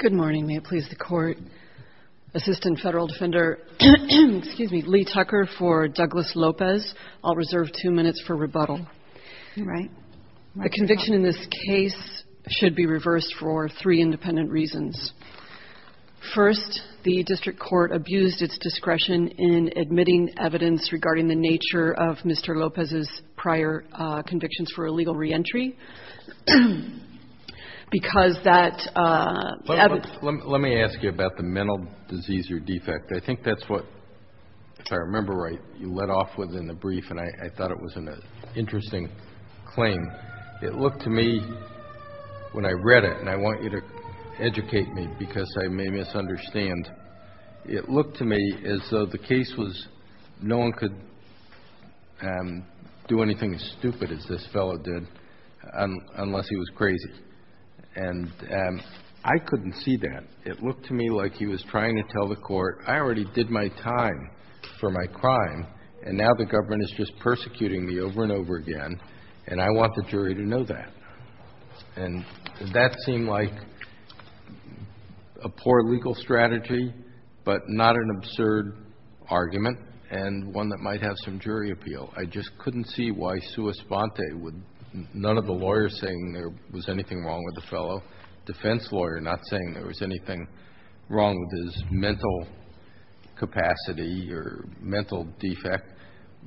Good morning. May it please the Court, Assistant Federal Defender Lee Tucker for Douglas Lopez. I'll reserve two minutes for rebuttal. The conviction in this case should be reversed for three independent reasons. First, the District Court abused its discretion in admitting evidence regarding the nature of Mr. Lopez's prior convictions for illegal reentry, because that evidence... Let me ask you about the mental disease or defect. I think that's what, if I remember right, you led off with in the brief, and I thought it was an interesting claim. It looked to me, when I read it, and I want you to educate me because I may misunderstand, and it looked to me as though the case was, no one could do anything as stupid as this fellow did, unless he was crazy. And I couldn't see that. It looked to me like he was trying to tell the Court, I already did my time for my crime, and now the government is just persecuting me over and over again, and I want the jury to know that. And does that seem like a poor legal strategy, but not an absurd argument, and one that might have some jury appeal? I just couldn't see why sua sponte would, none of the lawyers saying there was anything wrong with the fellow, defense lawyer not saying there was anything wrong with his mental capacity or mental defect,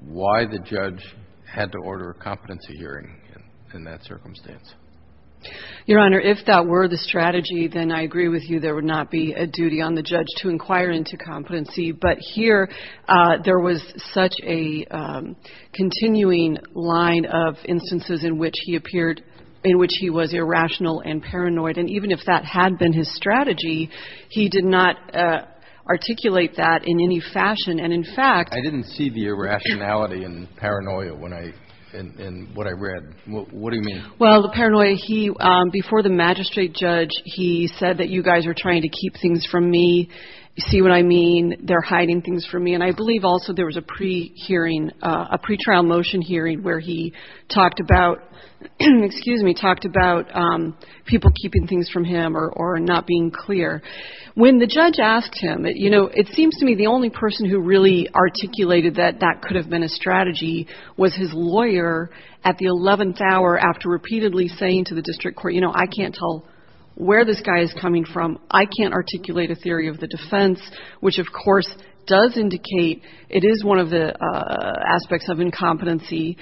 why the judge had to order a competency hearing in that circumstance. Your Honor, if that were the strategy, then I agree with you, there would not be a duty on the judge to inquire into competency. But here, there was such a continuing line of instances in which he appeared, in which he was irrational and paranoid, and even if that had been his strategy, he did not articulate that in any fashion. And, in fact, I didn't see the irrationality and paranoia when I, in what I read. What do you mean? Well, the paranoia, he, before the magistrate judge, he said that you guys are trying to keep things from me, you see what I mean, they're hiding things from me, and I believe also there was a pre-hearing, a pre-trial motion hearing where he talked about, excuse me, talked about people keeping things from him or not being clear. When the judge asked him, you know, it seems to me the only person who really articulated that that could have been a strategy was his lawyer at the 11th hour after repeatedly saying to the district court, you know, I can't tell where this guy is coming from, I can't articulate a theory of the defense, which, of course, does indicate it is one of the aspects of incompetency.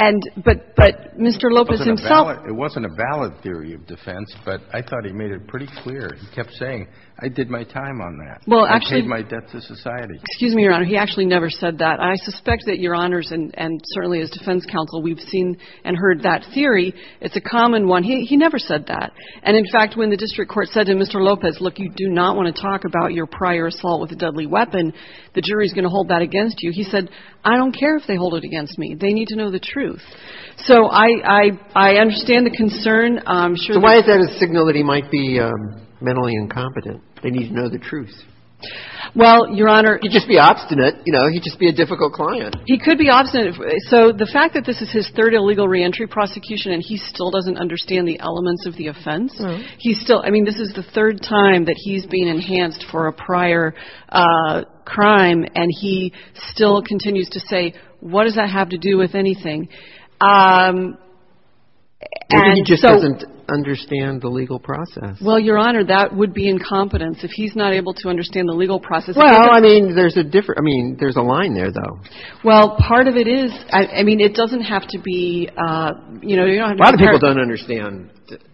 And, but Mr. Lopez himself It wasn't a valid theory of defense, but I thought he made it pretty clear. He kept saying, I did my time on that. Well, actually. I paid my debt to society. Excuse me, Your Honor. He actually never said that. I suspect that Your Honors, and certainly as defense counsel, we've seen and heard that theory. It's a common one. He never said that. And, in fact, when the district court said to Mr. Lopez, look, you do not want to talk about your prior assault with a deadly weapon, the jury's going to hold that against you. He said, I don't care if they hold it against me. They need to know the truth. So I understand the concern. I'm sure. So why is that a signal that he might be mentally incompetent? They need to know the truth. Well, Your Honor. He'd just be obstinate. You know, he'd just be a difficult client. He could be obstinate. So the fact that this is his third illegal reentry prosecution and he still doesn't understand the elements of the offense. He's still I mean, this is the third time that he's been enhanced for a prior crime. And he still continues to say, what does that have to do with anything? And he just doesn't understand the legal process. Well, Your Honor, that would be incompetence if he's not able to understand the legal process. Well, I mean, there's a different I mean, there's a line there, though. Well, part of it is I mean, it doesn't have to be you know, you don't have a lot of people don't understand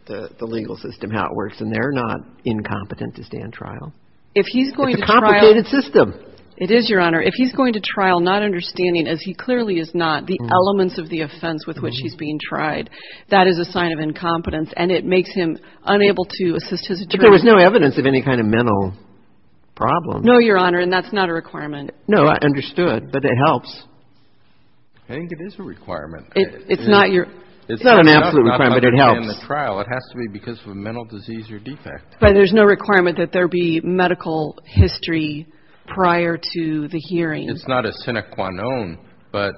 the legal system, how it works, and they're not incompetent to stand trial. If he's going to a complicated system. It is, Your Honor. If he's going to trial, not understanding as he clearly is not the elements of the offense with which he's being tried. That is a sign of incompetence. And it makes him unable to assist his attorney. But there was no evidence of any kind of mental problem. No, Your Honor. And that's not a requirement. No, I understood. But it helps. I think it is a requirement. It's not your. It's not an absolute requirement. It helps. It has to be because of a mental disease or defect. But there's no requirement that there be medical history prior to the hearing. It's not a sine qua non, but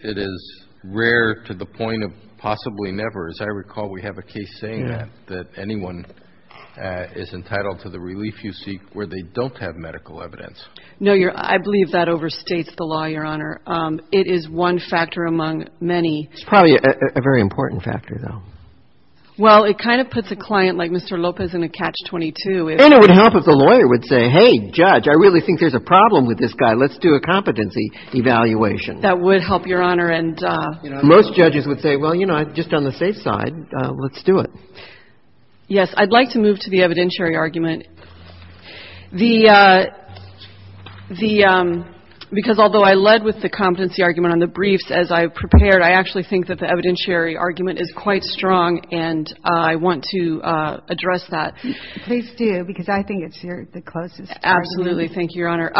it is rare to the point of possibly never. As I recall, we have a case saying that anyone is entitled to the relief you seek where they don't have medical evidence. No, I believe that overstates the law, Your Honor. It is one factor among many. It's probably a very important factor, though. Well, it kind of puts a client like Mr. Lopez in a catch-22. And it would help if the lawyer would say, hey, judge, I really think there's a problem with this guy. Let's do a competency evaluation. That would help, Your Honor. And most judges would say, well, you know, just on the safe side, let's do it. Yes. I'd like to move to the evidentiary argument. The the because although I led with the competency argument on the briefs as I prepared, I actually think that the evidentiary argument is quite strong, and I want to address that. Please do, because I think it's your the case. Absolutely. Thank you, Your Honor.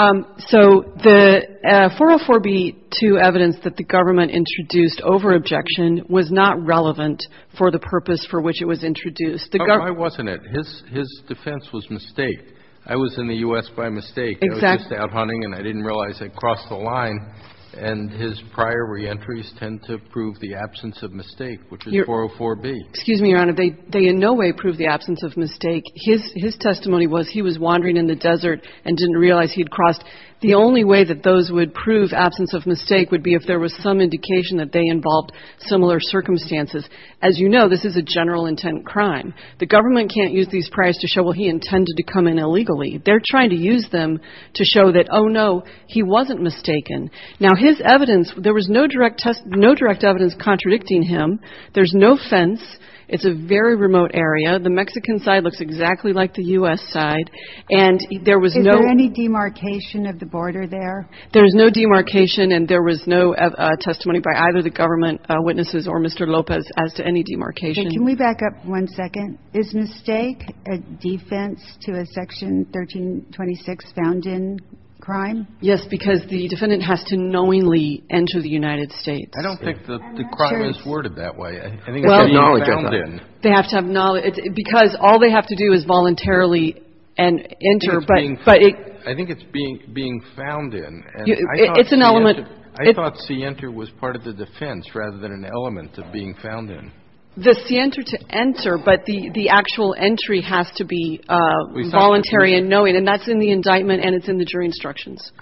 So the 404b2 evidence that the government introduced over objection was not relevant for the purpose for which it was introduced. Why wasn't it? His defense was mistake. I was in the U.S. by mistake. I was just out hunting, and I didn't realize I crossed the line. And his prior reentries tend to prove the absence of mistake, which is 404b. Excuse me, Your Honor. They in no way prove the absence of mistake. His testimony was he was wandering in the desert and didn't realize he'd crossed. The only way that those would prove absence of mistake would be if there was some indication that they involved similar circumstances. As you know, this is a general intent crime. The government can't use these priors to show, well, he intended to come in illegally. They're trying to use them to show that, oh, no, he wasn't mistaken. Now, his evidence, there was no direct test, no direct evidence contradicting him. There's no fence. It's a very remote area. The Mexican side looks exactly like the U.S. side. And there was no any demarcation of the border there. There is no demarcation and there was no testimony by either the government witnesses or Mr. Lopez as to any demarcation. Can we back up one second? Is mistake a defense to a section 1326 found in crime? Yes, because the defendant has to knowingly enter the United States. I don't think the crime is worded that way. I think they have to have knowledge because all they have to do is voluntarily and enter. But I think it's being found in. It's an element. I thought see enter was part of the defense rather than an element of being found in the center to enter. But the actual entry has to be voluntary and knowing. And that's in the indictment. And it's in the jury instructions.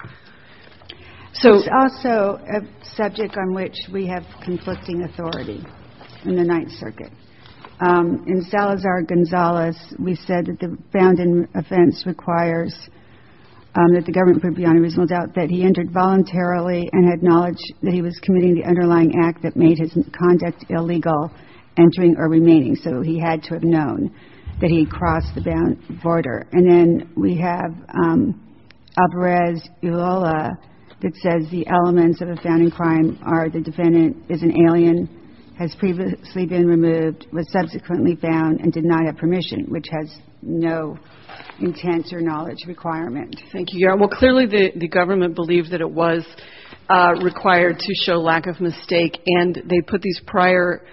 So it's also a subject on which we have conflicting authority in the Ninth Circuit. In Salazar Gonzalez, we said that the found in offense requires that the government put beyond a reasonable doubt that he entered voluntarily and had knowledge that he was committing the underlying act that made his conduct illegal, entering or remaining. So he had to have known that he crossed the border. And then we have Alvarez Ulloa that says the elements of a found in crime are the defendant is an alien, has previously been removed, was subsequently found and did not have permission, which has no intent or knowledge requirement. Thank you. Well, clearly, the government believed that it was required to show lack of mistake. And they put these prior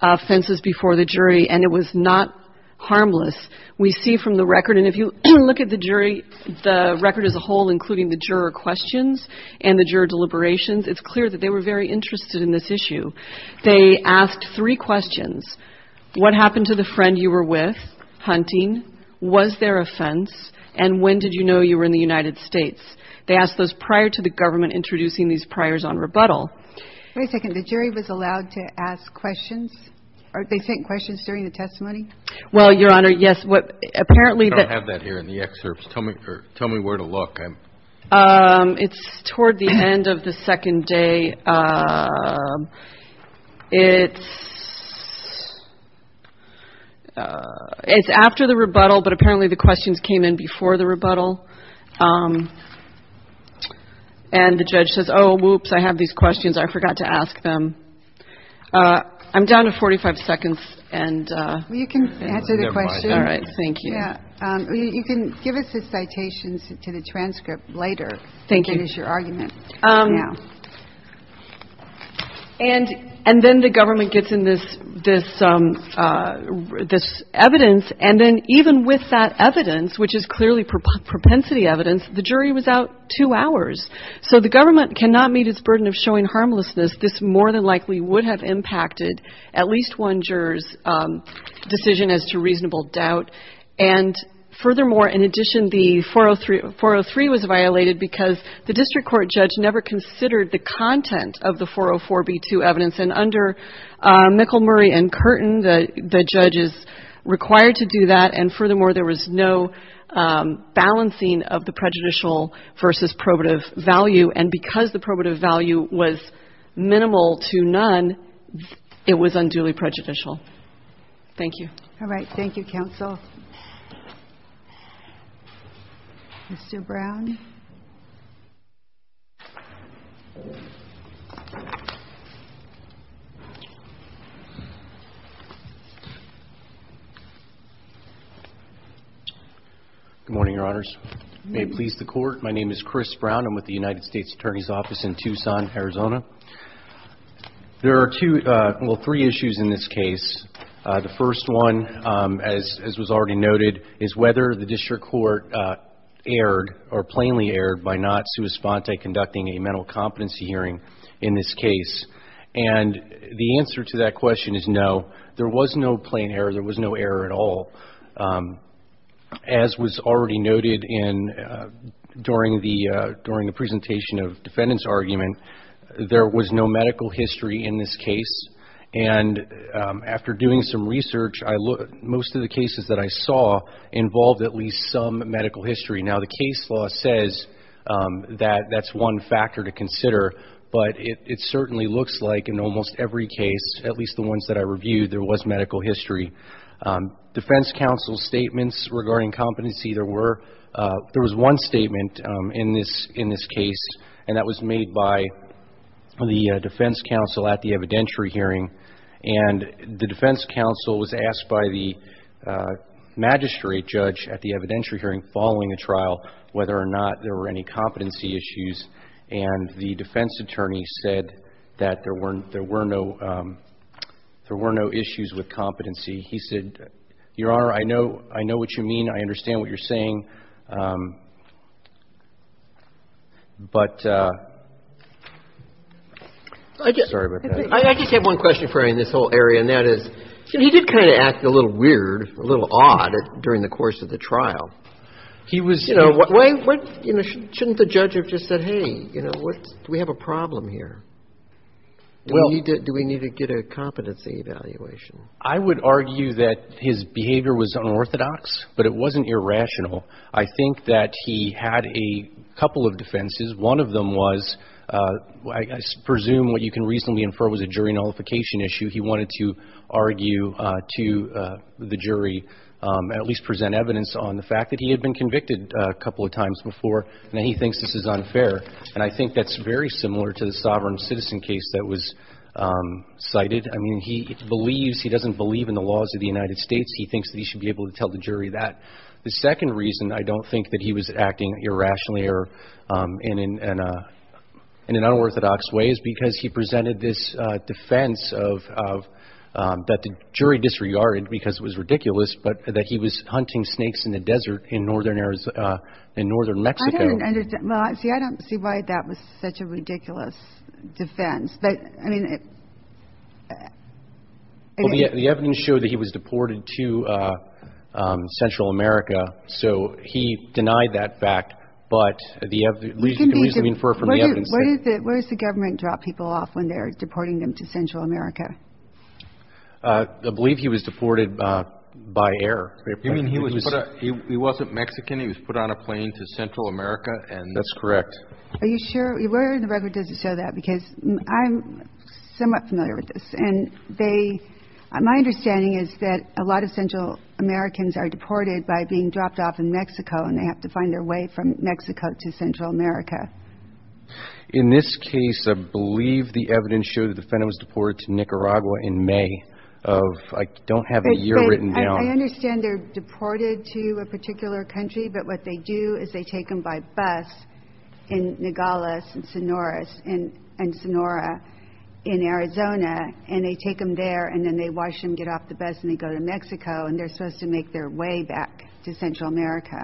offenses before the jury. And it was not harmless. We see from the record. And if you look at the jury, the record as a whole, including the juror questions and the juror deliberations, it's clear that they were very interested in this issue. They asked three questions. What happened to the friend you were with hunting? Was there a fence? And when did you know you were in the United States? They asked those prior to the government introducing these priors on rebuttal. Wait a second. The jury was allowed to ask questions or they sent questions during the testimony? Well, Your Honor, yes. What? Apparently, they don't have that here in the excerpts. Tell me or tell me where to look. It's toward the end of the second day. It's it's after the And the judge says, oh, whoops, I have these questions. I forgot to ask them. I'm down to 45 seconds. And you can answer the question. All right. Thank you. You can give us the citations to the transcript later. Thank you. Is your argument. And and then the government gets in this this this evidence. And then even with that evidence, which is clearly propensity evidence, the jury was out two hours. So the government cannot meet its burden of showing harmlessness. This more than likely would have impacted at least one juror's decision as to reasonable doubt. And furthermore, in addition, the 403 403 was violated because the district court judge never considered the content of the 404 B2 evidence. And under McElmurray and Curtin, the judge is required to do that. And furthermore, there was no balancing of the prejudicial versus probative value. And because the probative value was minimal to none, it was unduly prejudicial. Thank you. All right. Thank you, counsel. Mr. Brown. Good morning, Your Honors. May it please the court. My name is Chris Brown. I'm with the United States Attorney's Office in Tucson, Arizona. There are two or three issues in this case. The first one, as was already noted, is whether the district court erred or plainly erred by not sui sponte conducting a mental competency hearing in this case. And the answer to that question is no, there was no plain error. There was no error at all, as was already noted in during the during the presentation of defendant's argument. There was no medical history in this case. And after doing some research, most of the cases that I saw involved at least some medical history. Now, the case law says that that's one factor to consider. But it certainly looks like in almost every case, at least the ones that I reviewed, there was medical history. Defense counsel's statements regarding competency, there was one statement in this case, and that was made by the defense counsel at the evidentiary hearing. And the defense counsel was asked by the magistrate judge at the evidentiary hearing following the trial whether or not there were any competency issues. And the defense attorney said that there were no issues with competency. He said, Your Honor, I know what you mean. I understand what you're saying. But I'm sorry about that. I just have one question for you in this whole area, and that is, he did kind of act a little weird, a little odd during the course of the trial. Shouldn't the judge have just said, Hey, do we have a problem here? Do we need to get a competency evaluation? I would argue that his behavior was unorthodox, but it wasn't irrational. I think that he had a couple of defenses. One of them was, I presume what you can reasonably infer was a jury nullification issue. He wanted to argue to the jury, at least present evidence on the fact that he had been convicted a couple of times before, and that he thinks this is unfair. And I think that's very similar to the sovereign citizen case that was cited. I mean, he believes he doesn't believe in the laws of the United States. He thinks that he should be able to tell the jury that. The second reason I don't think that he was acting irrationally or in an unorthodox way is because he presented this defense of that the jury disregarded because it was ridiculous, but that he was hunting snakes in the desert in northern areas in northern Mexico. See, I don't see why that was such a ridiculous defense. But I mean, the evidence showed that he was deported to Central America. So he denied that fact. Where does the government drop people off when they're deporting them to Central America? I believe he was deported by air. You mean he wasn't Mexican? He was put on a plane to Central America? That's correct. Are you sure? Where in the record does it show that? Because I'm somewhat familiar with this. And my understanding is that a lot of Central Americans are deported by being dropped off in Mexico, and they have to find their way from Mexico to Central America. In this case, I believe the evidence showed that the defendant was deported to Nicaragua in May. I don't have a year written down. I understand they're deported to a particular country, but what they do is they take them by bus in Nogales and Sonora in Arizona, and they take them there, and then they wash them, get off the bus, and they go to Mexico, and they're supposed to make their way back to Central America.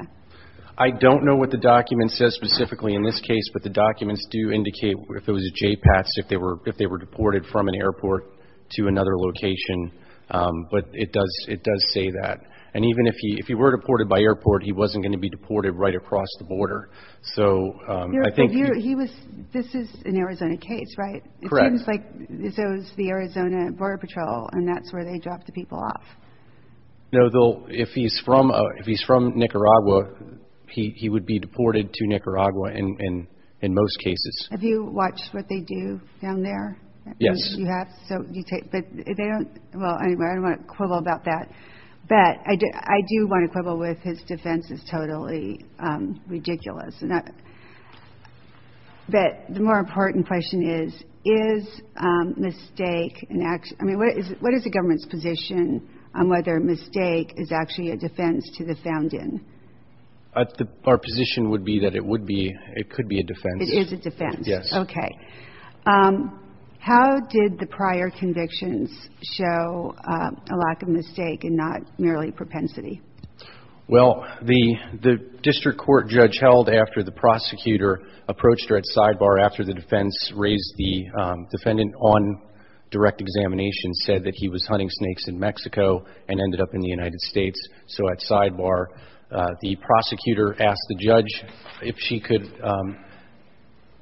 I don't know what the document says specifically in this case, but the documents do indicate if it was a JPATS, if they were deported from an airport to another location. But it does say that. And even if he were deported by airport, he wasn't going to be deported right across the border. So I think he was. This is an Arizona case, right? Correct. It looks like this was the Arizona Border Patrol, and that's where they dropped the people off. No, if he's from Nicaragua, he would be deported to Nicaragua in most cases. Have you watched what they do down there? Yes. You have? Well, anyway, I don't want to quibble about that. But I do want to quibble with his defense is totally ridiculous. But the more important question is, is mistake an action? I mean, what is the government's position on whether a mistake is actually a defense to the found in? Our position would be that it would be. It could be a defense. It is a defense. Yes. Okay. How did the prior convictions show a lack of mistake and not merely propensity? Well, the district court judge held after the prosecutor approached her at sidebar after the defense raised the defendant on direct examination said that he was hunting snakes in Mexico and ended up in the United States. So at sidebar, the prosecutor asked the judge if she could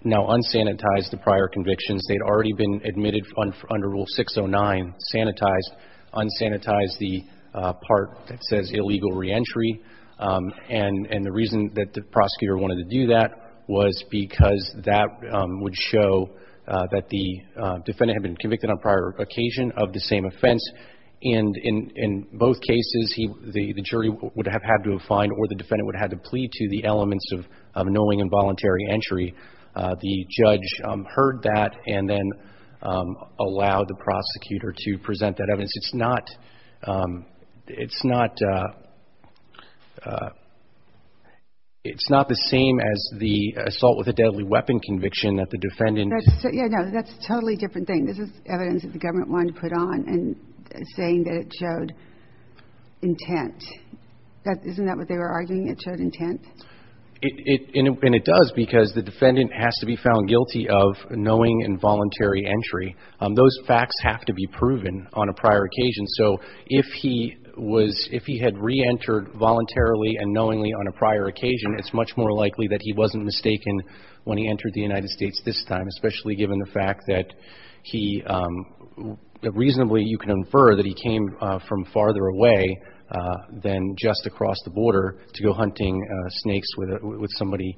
now unsanitize the prior convictions. They had already been admitted under Rule 609, sanitized, unsanitized the part that says illegal reentry. And the reason that the prosecutor wanted to do that was because that would show that the defendant had been convicted on prior occasion of the same offense. And in both cases, the jury would have had to have fined or the defendant would have had to plead to the elements of knowing involuntary entry. The judge heard that and then allowed the prosecutor to present that evidence. It's not the same as the assault with a deadly weapon conviction that the defendant. No, that's a totally different thing. This is evidence that the government wanted to put on and saying that it showed intent. Isn't that what they were arguing? It showed intent? And it does because the defendant has to be found guilty of knowing involuntary entry. Those facts have to be proven on a prior occasion. So if he had reentered voluntarily and knowingly on a prior occasion, it's much more likely that he wasn't mistaken when he entered the United States this time, especially given the fact that reasonably you can infer that he came from farther away than just across the border to go hunting snakes with somebody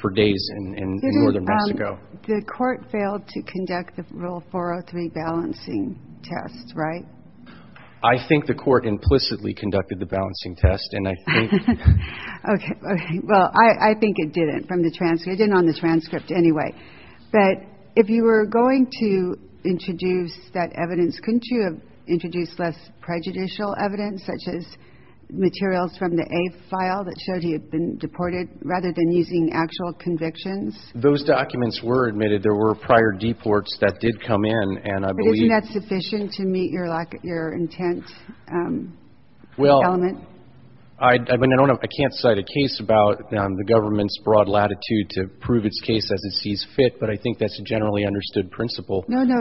for days in northern Mexico. The court failed to conduct the Rule 403 balancing test, right? I think the court implicitly conducted the balancing test, and I think. Okay. Well, I think it didn't from the transcript. It didn't on the transcript anyway. But if you were going to introduce that evidence, couldn't you have introduced less prejudicial evidence, such as materials from the A file that showed he had been deported rather than using actual convictions? Those documents were admitted. There were prior deports that did come in, and I believe. But isn't that sufficient to meet your intent element? Well, I can't cite a case about the government's broad latitude to prove its case as it sees fit, but I think that's a generally understood principle. No, no.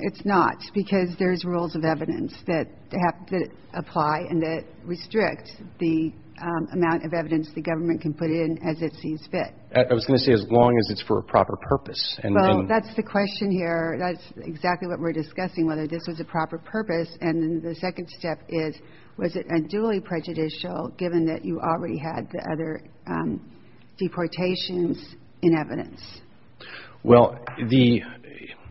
It's not, because there's rules of evidence that apply and that restrict the amount of evidence the government can put in as it sees fit. I was going to say as long as it's for a proper purpose. Well, that's the question here. That's exactly what we're discussing, whether this was a proper purpose. And the second step is, was it unduly prejudicial, given that you already had the other deportations in evidence? Well,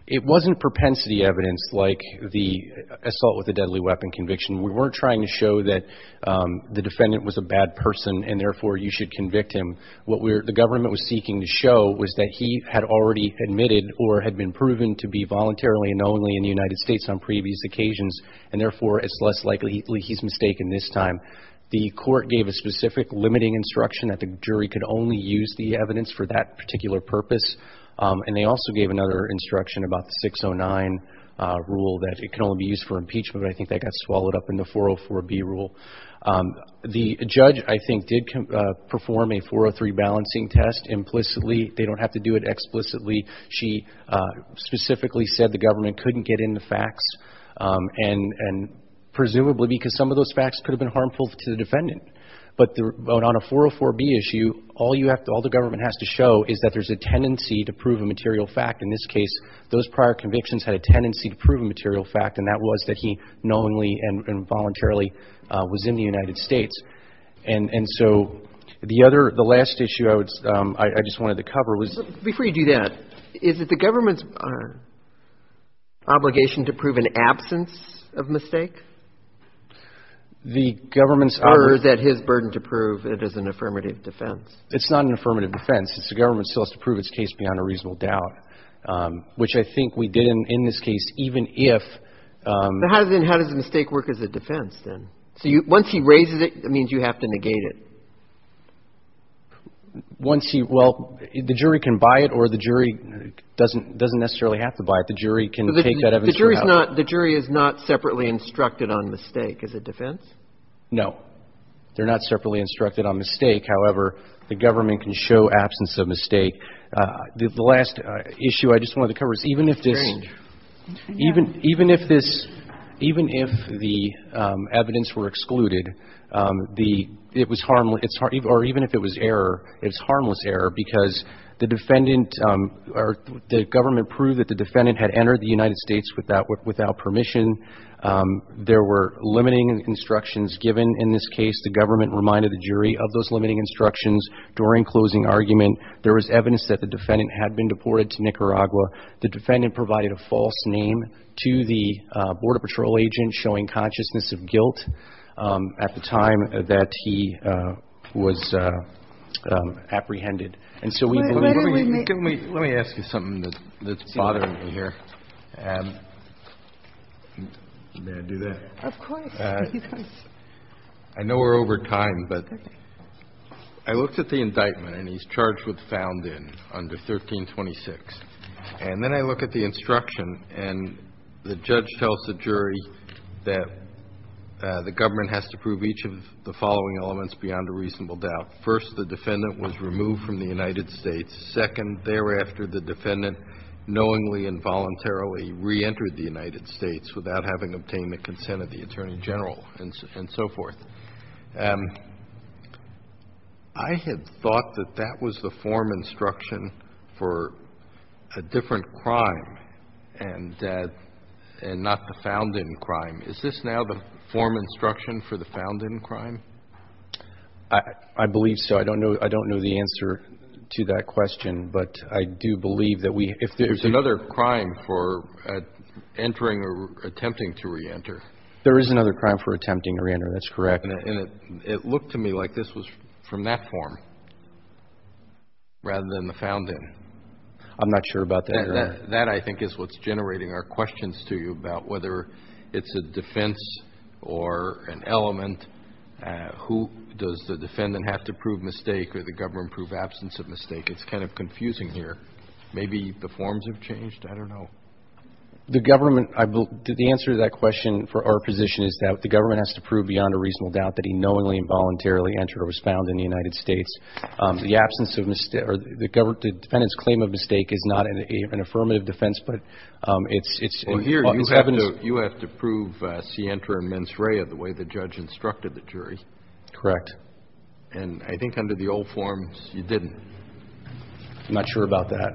it wasn't propensity evidence like the assault with a deadly weapon conviction. We weren't trying to show that the defendant was a bad person, and therefore you should convict him. What the government was seeking to show was that he had already admitted or had been proven to be voluntarily and only in the United States on previous occasions, and therefore it's less likely he's mistaken this time. The court gave a specific limiting instruction that the jury could only use the evidence for that particular purpose, and they also gave another instruction about the 609 rule that it can only be used for impeachment, but I think that got swallowed up in the 404B rule. The judge, I think, did perform a 403 balancing test implicitly. They don't have to do it explicitly. She specifically said the government couldn't get in the facts, and presumably because some of those facts could have been harmful to the defendant. But on a 404B issue, all you have to – all the government has to show is that there's a tendency to prove a material fact. In this case, those prior convictions had a tendency to prove a material fact, and that was that he knowingly and voluntarily was in the United States. And so the other – the last issue I would – I just wanted to cover was – Before you do that, is it the government's obligation to prove an absence of mistake? The government's – Or is that his burden to prove it as an affirmative defense? It's not an affirmative defense. The government still has to prove its case beyond a reasonable doubt, which I think we did in this case, even if – But how does a mistake work as a defense, then? So once he raises it, it means you have to negate it. Once he – well, the jury can buy it, or the jury doesn't necessarily have to buy it. The jury can take that evidence from him. The jury is not – the jury is not separately instructed on mistake as a defense? No. They're not separately instructed on mistake. However, the government can show absence of mistake. The last issue I just wanted to cover is even if this – Strange. Even if this – even if the evidence were excluded, the – it was – or even if it was error, it was harmless error because the defendant – the government proved that the defendant had entered the United States without permission. There were limiting instructions given in this case. The government reminded the jury of those limiting instructions during closing argument. There was evidence that the defendant had been deported to Nicaragua. The defendant provided a false name to the Border Patrol agent, showing consciousness of guilt at the time that he was apprehended. And so we – Let me ask you something that's bothering me here. May I do that? Of course. I know we're over time, but I looked at the indictment, and he's charged with found in under 1326. And then I look at the instruction, and the judge tells the jury that the government has to prove each of the following elements beyond a reasonable doubt. First, the defendant was removed from the United States. Second, thereafter, the defendant knowingly and voluntarily reentered the United States without having obtained the consent of the Attorney General and so forth. I had thought that that was the form instruction for a different crime and not the found in crime. Is this now the form instruction for the found in crime? I believe so. I don't know the answer to that question, but I do believe that we – There's another crime for entering or attempting to reenter. There is another crime for attempting to reenter. That's correct. And it looked to me like this was from that form rather than the found in. I'm not sure about that, Your Honor. That, I think, is what's generating our questions to you about whether it's a defense or an element. Who does the defendant have to prove mistake or the government prove absence of mistake? It's kind of confusing here. Maybe the forms have changed. I don't know. The government – the answer to that question for our position is that the government has to prove beyond a reasonable doubt that he knowingly and voluntarily entered or was found in the United States. The absence of – the defendant's claim of mistake is not an affirmative defense, but it's – Well, here, you have to prove scienter and mens rea the way the judge instructed the jury. Correct. And I think under the old forms, you didn't. I'm not sure about that.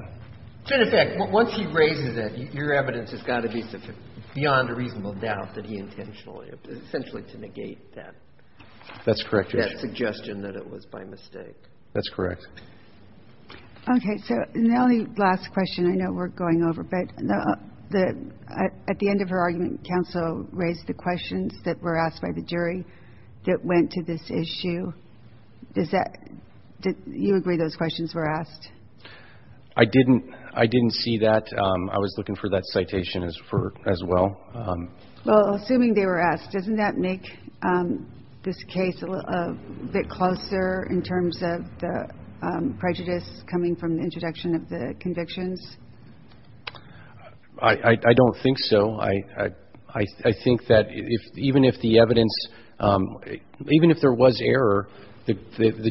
So, in effect, once he raises it, your evidence has got to be beyond a reasonable doubt that he intentionally – essentially to negate that. That's correct, Your Honor. That suggestion that it was by mistake. That's correct. Okay. So, the only last question I know we're going over, but at the end of her argument, counsel raised the questions that were asked by the jury that went to this issue. Does that – do you agree those questions were asked? I didn't. I didn't see that. I was looking for that citation as well. Well, assuming they were asked, doesn't that make this case a bit closer in terms of the prejudice coming from the introduction of the convictions? I don't think so. I think that even if the evidence – even if there was error, the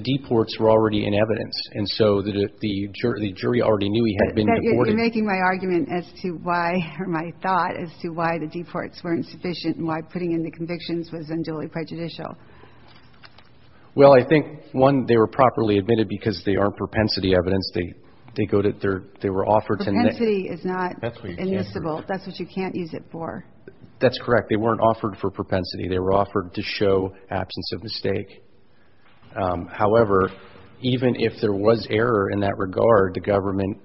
deports were already in evidence. And so the jury already knew he had been deported. You're making my argument as to why – or my thought as to why the deports weren't sufficient and why putting in the convictions was unduly prejudicial. Well, I think, one, they were properly admitted because they aren't propensity evidence. They go to – they were offered to – Propensity is not admissible. That's what you can't use it for. That's correct. They weren't offered for propensity. They were offered to show absence of mistake. However, even if there was error in that regard, the government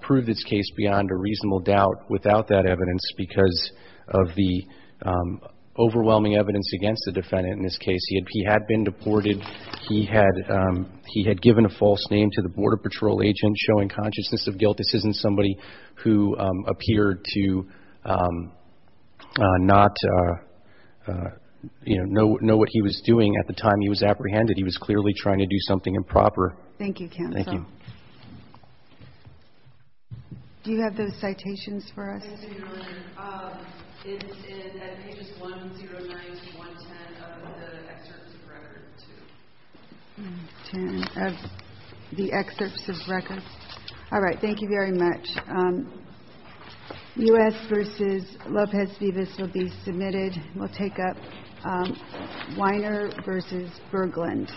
proved its case beyond a reasonable doubt without that evidence because of the overwhelming evidence against the defendant in this case. He had been deported. He had given a false name to the Border Patrol agent showing consciousness of guilt. This isn't somebody who appeared to not know what he was doing at the time he was apprehended. He was clearly trying to do something improper. Thank you, counsel. Thank you. Do you have those citations for us? Yes, I do, Your Honor. It's at pages 109 to 110 of the excerpts of record, too. 10 of the excerpts of record. All right. Thank you very much. U.S. v. Lopez-Vivas will be submitted. We'll take up Weiner v. Berglund.